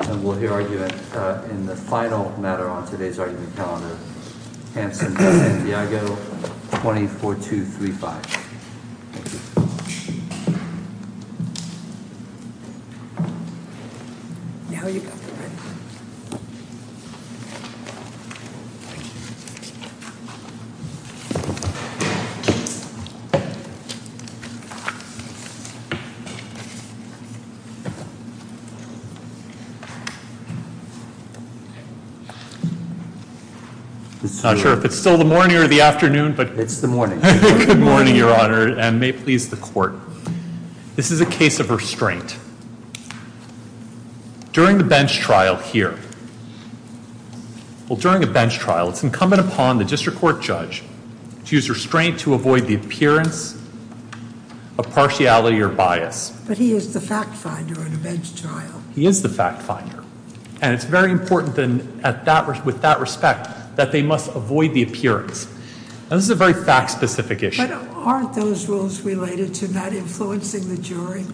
And we'll hear argument in the final matter on today's argument calendar. I'm not sure if it's still the morning or the afternoon, but it's the morning. Good morning, Your Honor, and may it please the court. This is a case of restraint. During the bench trial here, well, during a bench trial, it's incumbent upon the district court judge to use restraint to avoid the appearance of partiality or bias. But he is the fact finder in a bench trial. He is the fact finder. And it's very important with that respect that they must avoid the appearance. Now, this is a very fact-specific issue. But aren't those rules related to not influencing the jury?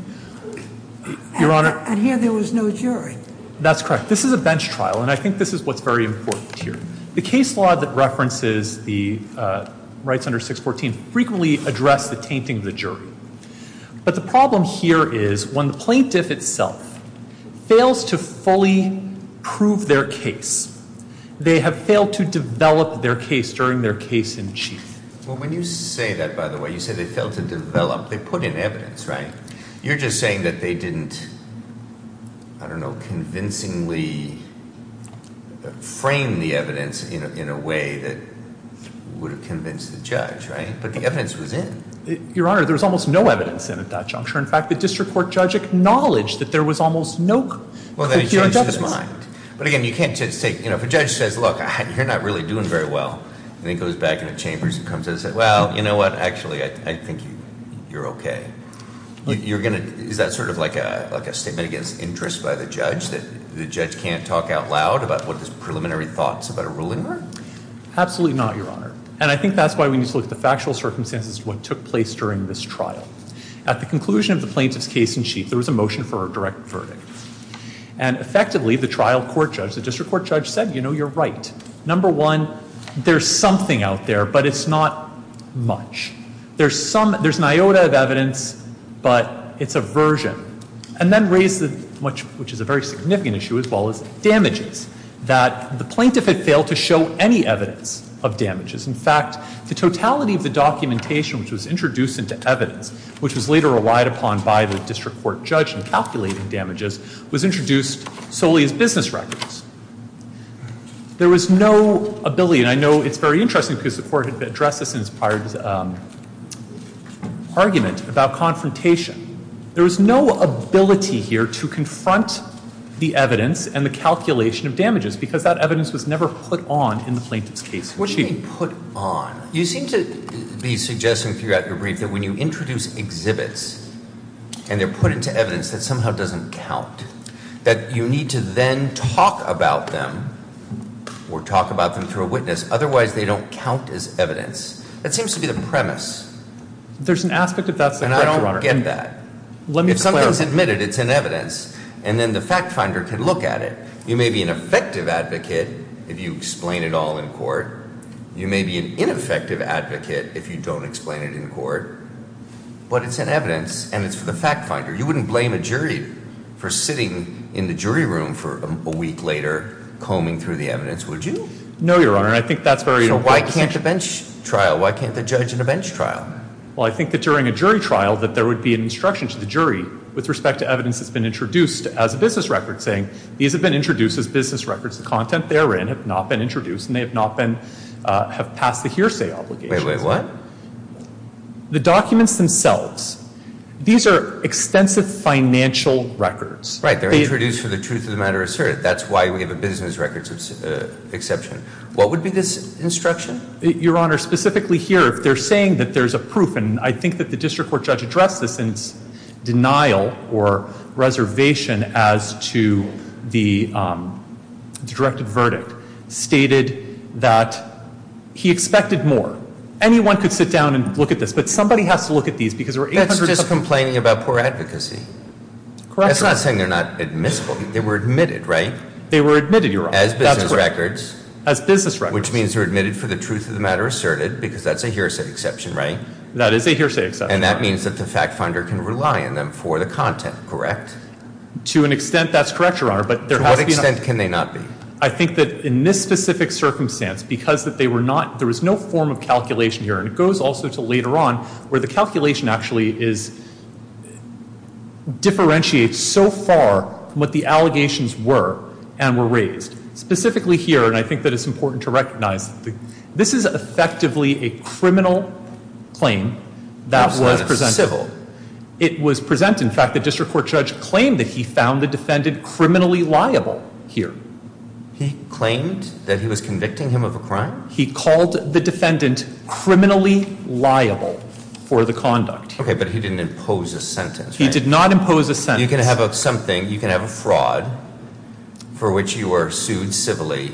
And here there was no jury. That's correct. This is a bench trial, and I think this is what's very important here. The case law that references the rights under 614 frequently addressed the tainting of the jury. But the problem here is when the plaintiff itself fails to fully prove their case, they have failed to develop their case during their case in chief. Well, when you say that, by the way, you say they failed to develop. They put in evidence, right? You're just saying that they didn't, I don't know, convincingly frame the evidence in a way that would have convinced the judge, right? But the evidence was in. Your Honor, there was almost no evidence in at that juncture. In fact, the district court judge acknowledged that there was almost no clear evidence. Well, then he changed his mind. But, again, you can't just say, you know, if a judge says, look, you're not really doing very well, and then goes back into chambers and comes in and says, well, you know what? Actually, I think you're okay. You're going to, is that sort of like a statement against interest by the judge, that the judge can't talk out loud about what his preliminary thoughts about a ruling were? Absolutely not, Your Honor. And I think that's why we need to look at the factual circumstances of what took place during this trial. At the conclusion of the plaintiff's case in chief, there was a motion for a direct verdict. And, effectively, the trial court judge, the district court judge, said, you know, you're right. Number one, there's something out there, but it's not much. There's some, there's an iota of evidence, but it's a version. And then raised, which is a very significant issue as well, is damages. That the plaintiff had failed to show any evidence of damages. In fact, the totality of the documentation which was introduced into evidence, which was later relied upon by the district court judge in calculating damages, was introduced solely as business records. There was no ability, and I know it's very interesting, because the court had addressed this in its prior argument about confrontation. There was no ability here to confront the evidence and the calculation of damages because that evidence was never put on in the plaintiff's case in chief. What do you mean put on? You seem to be suggesting throughout your brief that when you introduce exhibits and they're put into evidence that somehow doesn't count, that you need to then talk about them or talk about them through a witness. Otherwise, they don't count as evidence. That seems to be the premise. There's an aspect of that that's correct, Your Honor. I don't get that. Let me clarify. If something's admitted, it's in evidence, and then the fact finder can look at it. You may be an effective advocate if you explain it all in court. You may be an ineffective advocate if you don't explain it in court. But it's in evidence, and it's for the fact finder. You wouldn't blame a jury for sitting in the jury room for a week later combing through the evidence, would you? No, Your Honor. I think that's very important. So why can't a bench trial? Why can't the judge in a bench trial? Well, I think that during a jury trial that there would be an instruction to the jury with respect to evidence that's been introduced as a business record, saying these have been introduced as business records. The content therein have not been introduced, and they have not been – have passed the hearsay obligation. Wait, wait. What? The documents themselves. These are extensive financial records. Right. They're introduced for the truth of the matter asserted. That's why we have a business records exception. What would be this instruction? Your Honor, specifically here, if they're saying that there's a proof, and I think that the district court judge addressed this in denial or reservation as to the directed verdict, stated that he expected more. Anyone could sit down and look at this, but somebody has to look at these because there are 800 – That's just complaining about poor advocacy. Correct. That's not saying they're not admissible. They were admitted, right? They were admitted, Your Honor. That's correct. As business records. As business records. Which means they're admitted for the truth of the matter asserted because that's a hearsay exception, right? That is a hearsay exception. And that means that the fact finder can rely on them for the content, correct? To an extent, that's correct, Your Honor, but there has to be – To what extent can they not be? I think that in this specific circumstance, because that they were not – there was no form of calculation here, and it goes also to later on where the calculation actually is – differentiates so far from what the allegations were and were raised. Specifically here, and I think that it's important to recognize, this is effectively a criminal claim that was presented. It wasn't a civil. It was presented. In fact, the district court judge claimed that he found the defendant criminally liable here. He claimed that he was convicting him of a crime? He called the defendant criminally liable for the conduct here. Okay, but he didn't impose a sentence, right? He did not impose a sentence. You can have something – you can have a fraud for which you are sued civilly.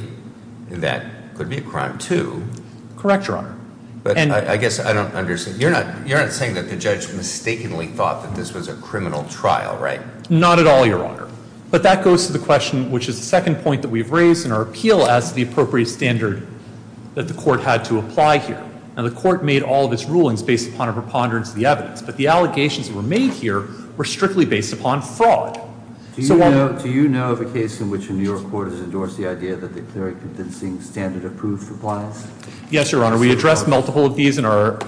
That could be a crime, too. Correct, Your Honor. But I guess I don't understand. You're not saying that the judge mistakenly thought that this was a criminal trial, right? Not at all, Your Honor. But that goes to the question, which is the second point that we've raised in our appeal as to the appropriate standard that the court had to apply here. Now, the court made all of its rulings based upon a preponderance of the evidence, but the allegations that were made here were strictly based upon fraud. Do you know of a case in which a New York court has endorsed the idea that they're clearly convincing standard-approved compliance? Yes, Your Honor. We addressed multiple of these in our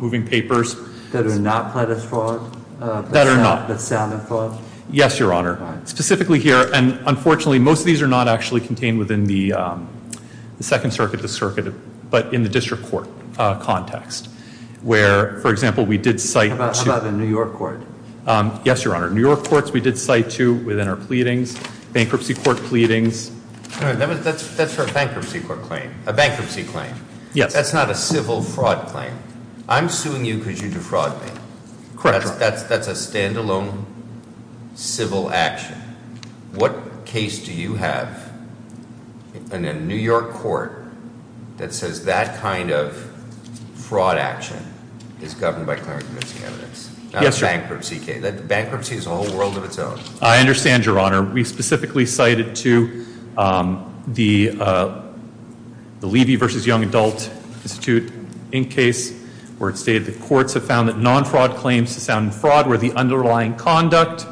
moving papers. That are not plaintiff's fraud? That are not. That sound like fraud? Yes, Your Honor. Specifically here, and unfortunately, most of these are not actually contained within the Second Circuit, the circuit, but in the district court context, where, for example, we did cite to- How about a New York court? Yes, Your Honor. New York courts we did cite to within our pleadings, bankruptcy court pleadings. That's for a bankruptcy claim. Yes. That's not a civil fraud claim. I'm suing you because you defrauded me. Correct, Your Honor. That's a stand-alone civil action. What case do you have in a New York court that says that kind of fraud action is governed by clearly convincing evidence? Yes, Your Honor. Not a bankruptcy case. Bankruptcy is a whole world of its own. I understand, Your Honor. We specifically cited to the Levy v. Young Adult Institute Inc. case, where it stated that courts have found that non-fraud claims to sound fraud where the underlying conduct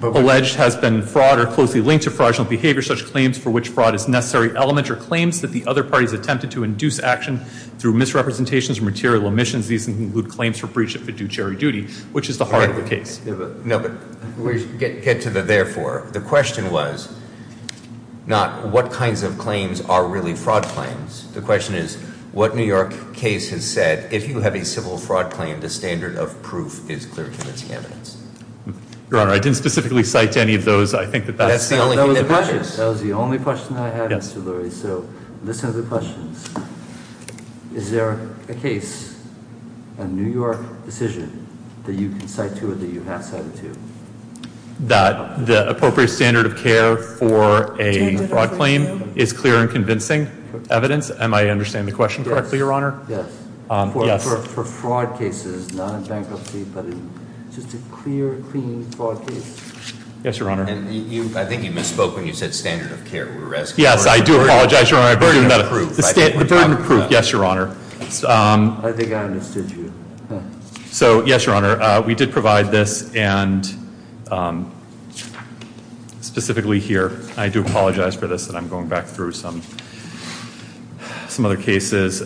alleged has been fraud or closely linked to fraudulent behavior. Such claims for which fraud is a necessary element are claims that the other parties attempted to induce action through misrepresentations or material omissions. These include claims for breach of a due charity duty, which is the heart of the case. No, but get to the therefore. The question was not what kinds of claims are really fraud claims. The question is what New York case has said if you have a civil fraud claim the standard of proof is clear and convincing evidence. Your Honor, I didn't specifically cite any of those. I think that that's the only thing that matters. That was the only question I had, Mr. Lurie. So listen to the questions. Is there a case, a New York decision, that you can cite to or that you have cited to? That the appropriate standard of care for a fraud claim is clear and convincing evidence Am I understanding the question correctly, Your Honor? Yes. For fraud cases, not in bankruptcy, but in just a clear, clean fraud case? Yes, Your Honor. I think you misspoke when you said standard of care. Yes, I do apologize, Your Honor. The standard of proof, yes, Your Honor. I think I understood you. So, yes, Your Honor. We did provide this and specifically here. I do apologize for this and I'm going back through some other cases.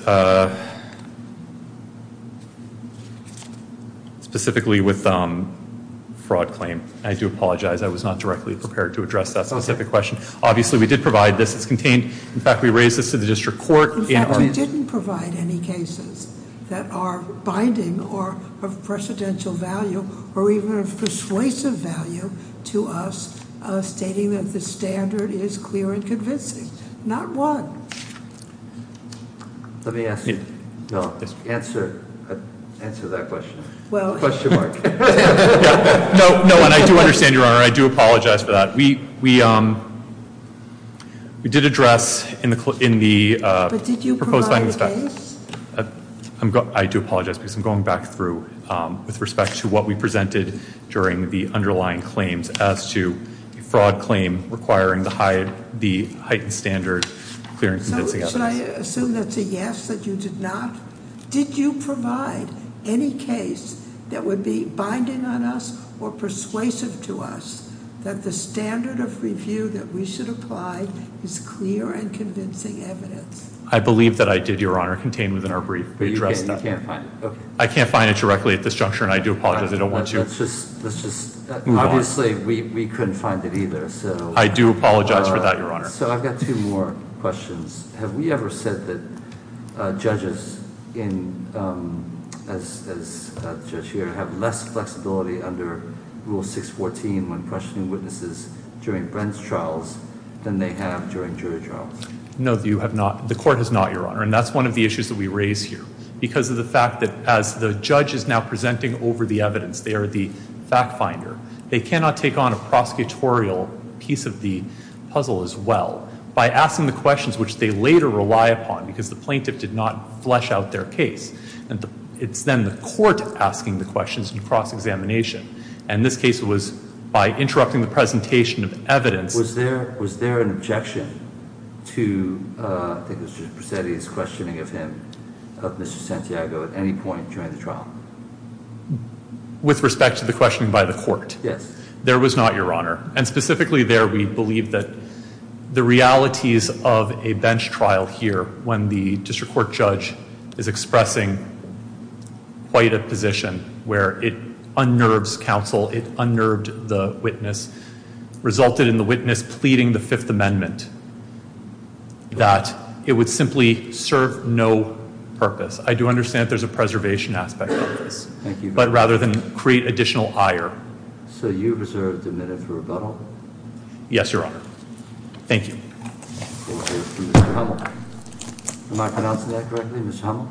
Specifically with fraud claim. I do apologize. I was not directly prepared to address that specific question. Obviously, we did provide this. It's contained. In fact, we raised this to the district court. In fact, we didn't provide any cases that are binding or of precedential value or even of persuasive value to us stating that the standard is clear and convincing. Not one. Let me ask you. No, answer that question. Question mark. No, and I do understand, Your Honor. I do apologize for that. We did address in the proposed findings. But did you provide a case? I do apologize because I'm going back through with respect to what we presented during the underlying claims as to a fraud claim requiring the heightened standard clear and convincing evidence. Should I assume that's a yes, that you did not? Did you provide any case that would be binding on us or persuasive to us that the standard of review that we should apply is clear and convincing evidence? I believe that I did, Your Honor. It's contained within our brief. We addressed that. You can't find it. I can't find it directly at this juncture, and I do apologize. I don't want to move on. Obviously, we couldn't find it either. I do apologize for that, Your Honor. I've got two more questions. Have we ever said that judges, as the judge here, have less flexibility under Rule 614 when questioning witnesses during Brent's trials than they have during jury trials? No, you have not. The Court has not, Your Honor, and that's one of the issues that we raise here because of the fact that as the judge is now presenting over the evidence, they are the fact finder. They cannot take on a prosecutorial piece of the puzzle as well by asking the questions which they later rely upon because the plaintiff did not flesh out their case. It's then the Court asking the questions in cross-examination, and this case was by interrupting the presentation of evidence. Was there an objection to, I think it was Judge Presetti's questioning of him, of Mr. Santiago at any point during the trial? With respect to the questioning by the Court? Yes. There was not, Your Honor. And specifically there, we believe that the realities of a bench trial here when the district court judge is expressing quite a position where it unnerves counsel, it unnerved the witness, resulted in the witness pleading the Fifth Amendment that it would simply serve no purpose. I do understand that there's a preservation aspect of this. Thank you. But rather than create additional ire. So you reserve the minute for rebuttal? Yes, Your Honor. Thank you. Thank you. Mr. Hummel? Am I pronouncing that correctly, Mr. Hummel?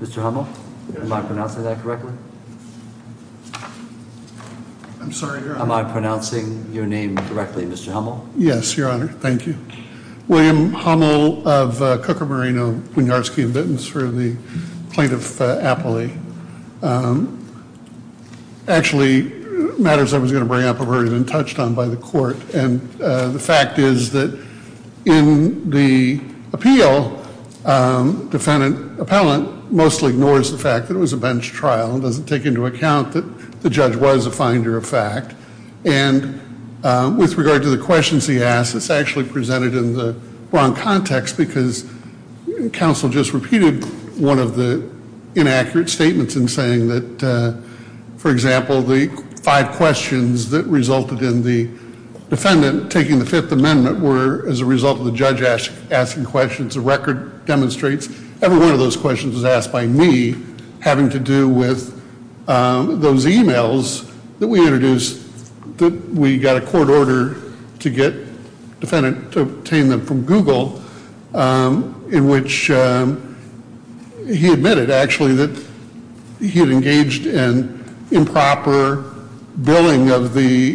Mr. Hummel? Yes. Am I pronouncing that correctly? I'm sorry, Your Honor. Am I pronouncing your name correctly, Mr. Hummel? Yes, Your Honor. Thank you. William Hummel of Cucamorino, Winiarski & Bittins for the plaintiff appellee. Actually, matters I was going to bring up have already been touched on by the Court, and the fact is that in the appeal, defendant appellant mostly ignores the fact that it was a bench trial and doesn't take into account that the judge was a finder of fact. And with regard to the questions he asked, it's actually presented in the wrong context because counsel just repeated one of the inaccurate statements in saying that, for example, the five questions that resulted in the defendant taking the Fifth Amendment were as a result of the judge asking questions. The record demonstrates every one of those questions was asked by me, having to do with those e-mails that we introduced that we got a court order to get defendant to obtain them from Google, in which he admitted, actually, that he had engaged in improper billing of the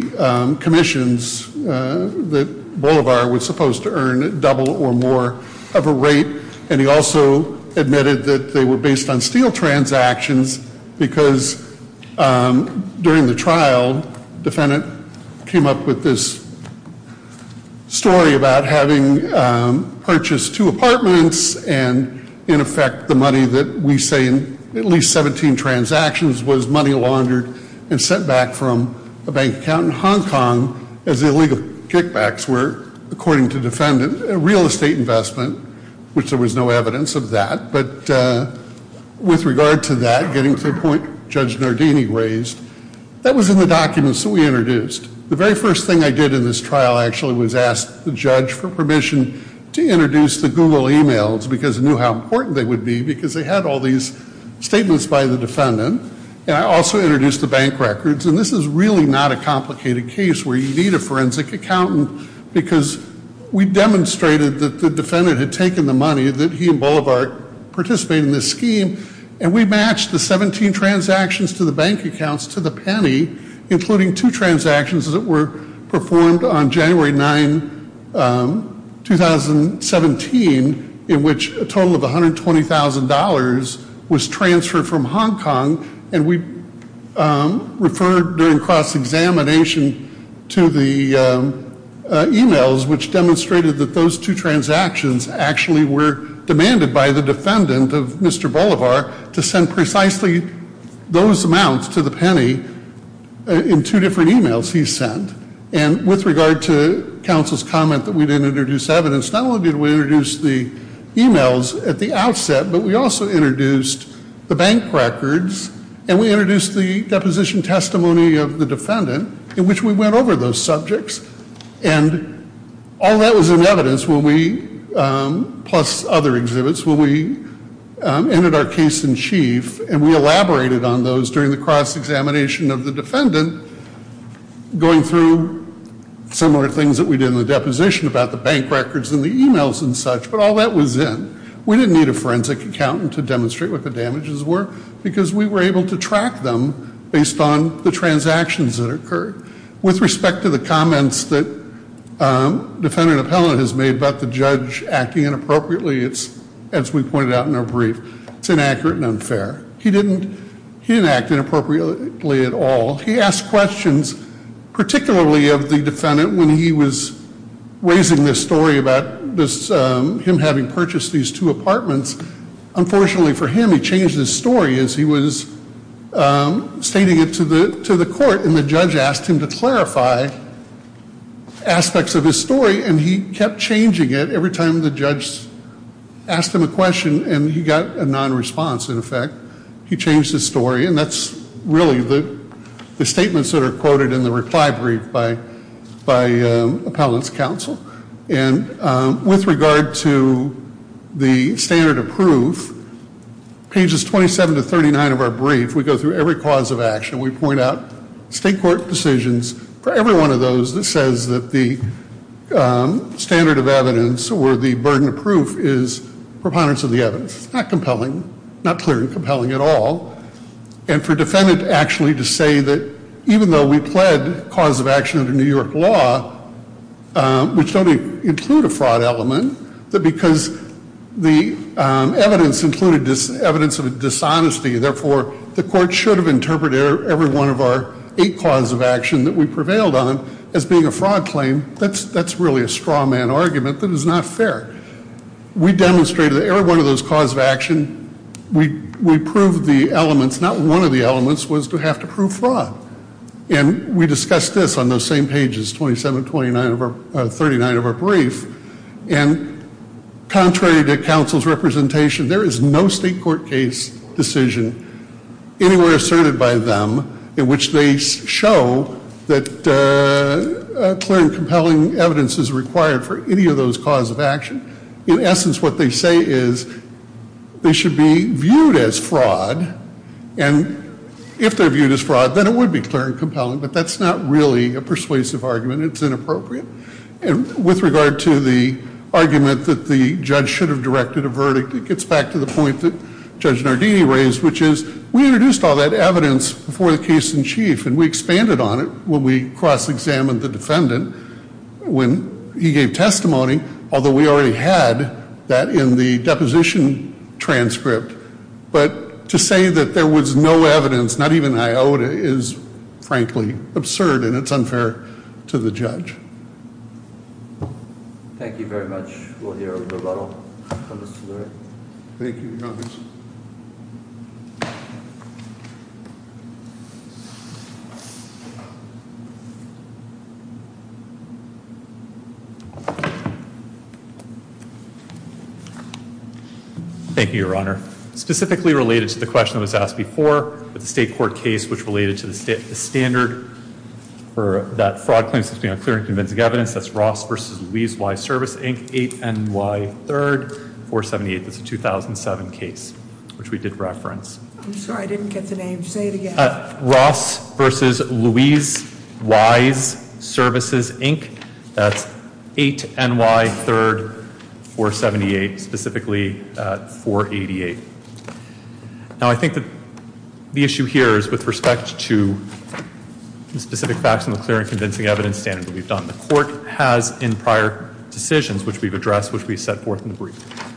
commissions that Bolivar was supposed to earn at double or more of a rate, and he also admitted that they were based on steel transactions because during the trial, defendant came up with this story about having purchased two apartments and, in effect, the money that we say in at least 17 transactions was money laundered and sent back from a bank account in Hong Kong as the illegal kickbacks were, according to defendant, a real estate investment, which there was no evidence of that. But with regard to that, getting to the point Judge Nardini raised, that was in the documents that we introduced. The very first thing I did in this trial, actually, was ask the judge for permission to introduce the Google e-mails because I knew how important they would be because they had all these statements by the defendant, and I also introduced the bank records. And this is really not a complicated case where you need a forensic accountant because we demonstrated that the defendant had taken the money, that he and Bolivar participated in this scheme, and we matched the 17 transactions to the bank accounts to the penny, including two transactions that were performed on January 9, 2017, in which a total of $120,000 was transferred from Hong Kong, and we referred during cross-examination to the e-mails, which demonstrated that those two transactions actually were demanded by the defendant of Mr. Bolivar to send precisely those amounts to the penny in two different e-mails he sent. And with regard to counsel's comment that we didn't introduce evidence, not only did we introduce the e-mails at the outset, but we also introduced the bank records and we introduced the deposition testimony of the defendant in which we went over those subjects. And all that was in evidence when we, plus other exhibits, when we ended our case in chief and we elaborated on those during the cross-examination of the defendant, going through similar things that we did in the deposition about the bank records and the e-mails and such, but all that was in. We didn't need a forensic accountant to demonstrate what the damages were because we were able to track them based on the transactions that occurred. With respect to the comments that defendant appellant has made about the judge acting inappropriately, as we pointed out in our brief, it's inaccurate and unfair. He didn't act inappropriately at all. He asked questions, particularly of the defendant when he was raising this story about him having purchased these two apartments. Unfortunately for him, he changed his story as he was stating it to the court and the judge asked him to clarify aspects of his story and he kept changing it every time the judge asked him a question and he got a non-response in effect. He changed his story and that's really the statements that are quoted in the reply brief by appellant's counsel. And with regard to the standard of proof, pages 27 to 39 of our brief, we go through every cause of action. We point out state court decisions for every one of those that says that the standard of evidence or the burden of proof is preponderance of the evidence. That's not compelling, not clear and compelling at all. And for defendant actually to say that even though we pled cause of action under New York law, which don't include a fraud element, that because the evidence included evidence of dishonesty, therefore the court should have interpreted every one of our eight cause of action that we prevailed on as being a fraud claim, that's really a straw man argument that is not fair. We demonstrated that every one of those cause of action, we proved the elements. Not one of the elements was to have to prove fraud. And we discussed this on those same pages, 27 to 39 of our brief. And contrary to counsel's representation, there is no state court case decision anywhere asserted by them in which they show that clear and compelling evidence is required for any of those cause of action. In essence, what they say is they should be viewed as fraud. And if they're viewed as fraud, then it would be clear and compelling. But that's not really a persuasive argument. It's inappropriate. And with regard to the argument that the judge should have directed a verdict, it gets back to the point that Judge Nardini raised, which is we introduced all that evidence before the case in chief and we expanded on it when we cross-examined the defendant when he gave testimony, although we already had that in the deposition transcript. But to say that there was no evidence, not even an iota, is frankly absurd and it's unfair to the judge. Thank you very much. We'll hear a rebuttal from Mr. Lurie. Thank you, Your Honor. Thank you, Your Honor. Specifically related to the question that was asked before with the state court case, which related to the standard for that fraud claims to be on clear and convincing evidence, that's Ross v. Louise Wise Services, Inc., 8 NY 3rd, 478. That's a 2007 case, which we did reference. I'm sorry, I didn't get the name. Say it again. Ross v. Louise Wise Services, Inc. That's 8 NY 3rd, 478, specifically 488. Now, I think that the issue here is with respect to the specific facts and the clear and convincing evidence standard that we've done. The court has in prior decisions, which we've addressed, which we've set forth in the brief,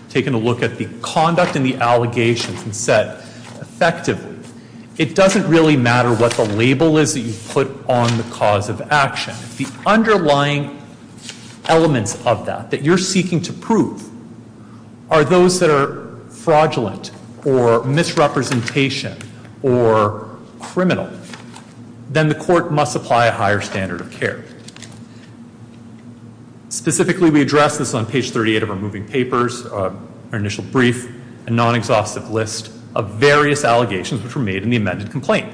taken a look at the conduct and the allegations and said, effectively, it doesn't really matter what the label is that you put on the cause of action. If the underlying elements of that that you're seeking to prove are those that are fraudulent or misrepresentation or criminal, then the court must apply a higher standard of care. Specifically, we addressed this on page 38 of our moving papers, our initial brief, a non-exhaustive list of various allegations which were made in the amended complaint.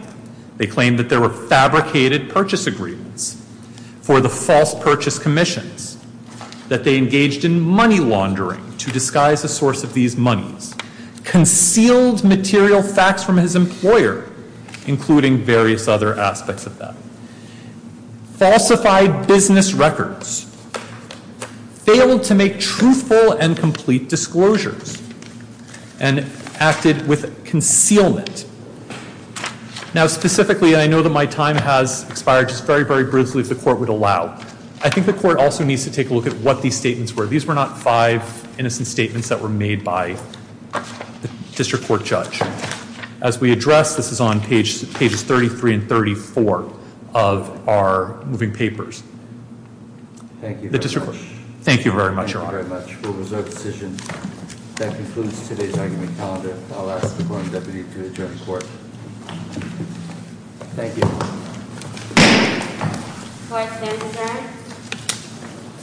They claimed that there were fabricated purchase agreements for the false purchase commissions, that they engaged in money laundering to disguise a source of these monies, concealed material facts from his employer, including various other aspects of that, falsified business records, failed to make truthful and complete disclosures, and acted with concealment. Now, specifically, I know that my time has expired just very, very briefly as the court would allow. I think the court also needs to take a look at what these statements were. These were not five innocent statements that were made by the district court judge. As we address, this is on pages 33 and 34 of our moving papers. Thank you very much. Thank you very much, Your Honor. Thank you very much. We'll reserve the session. That concludes today's argument calendar. I'll ask the foreign deputy to adjourn the court. Thank you. Court is adjourned.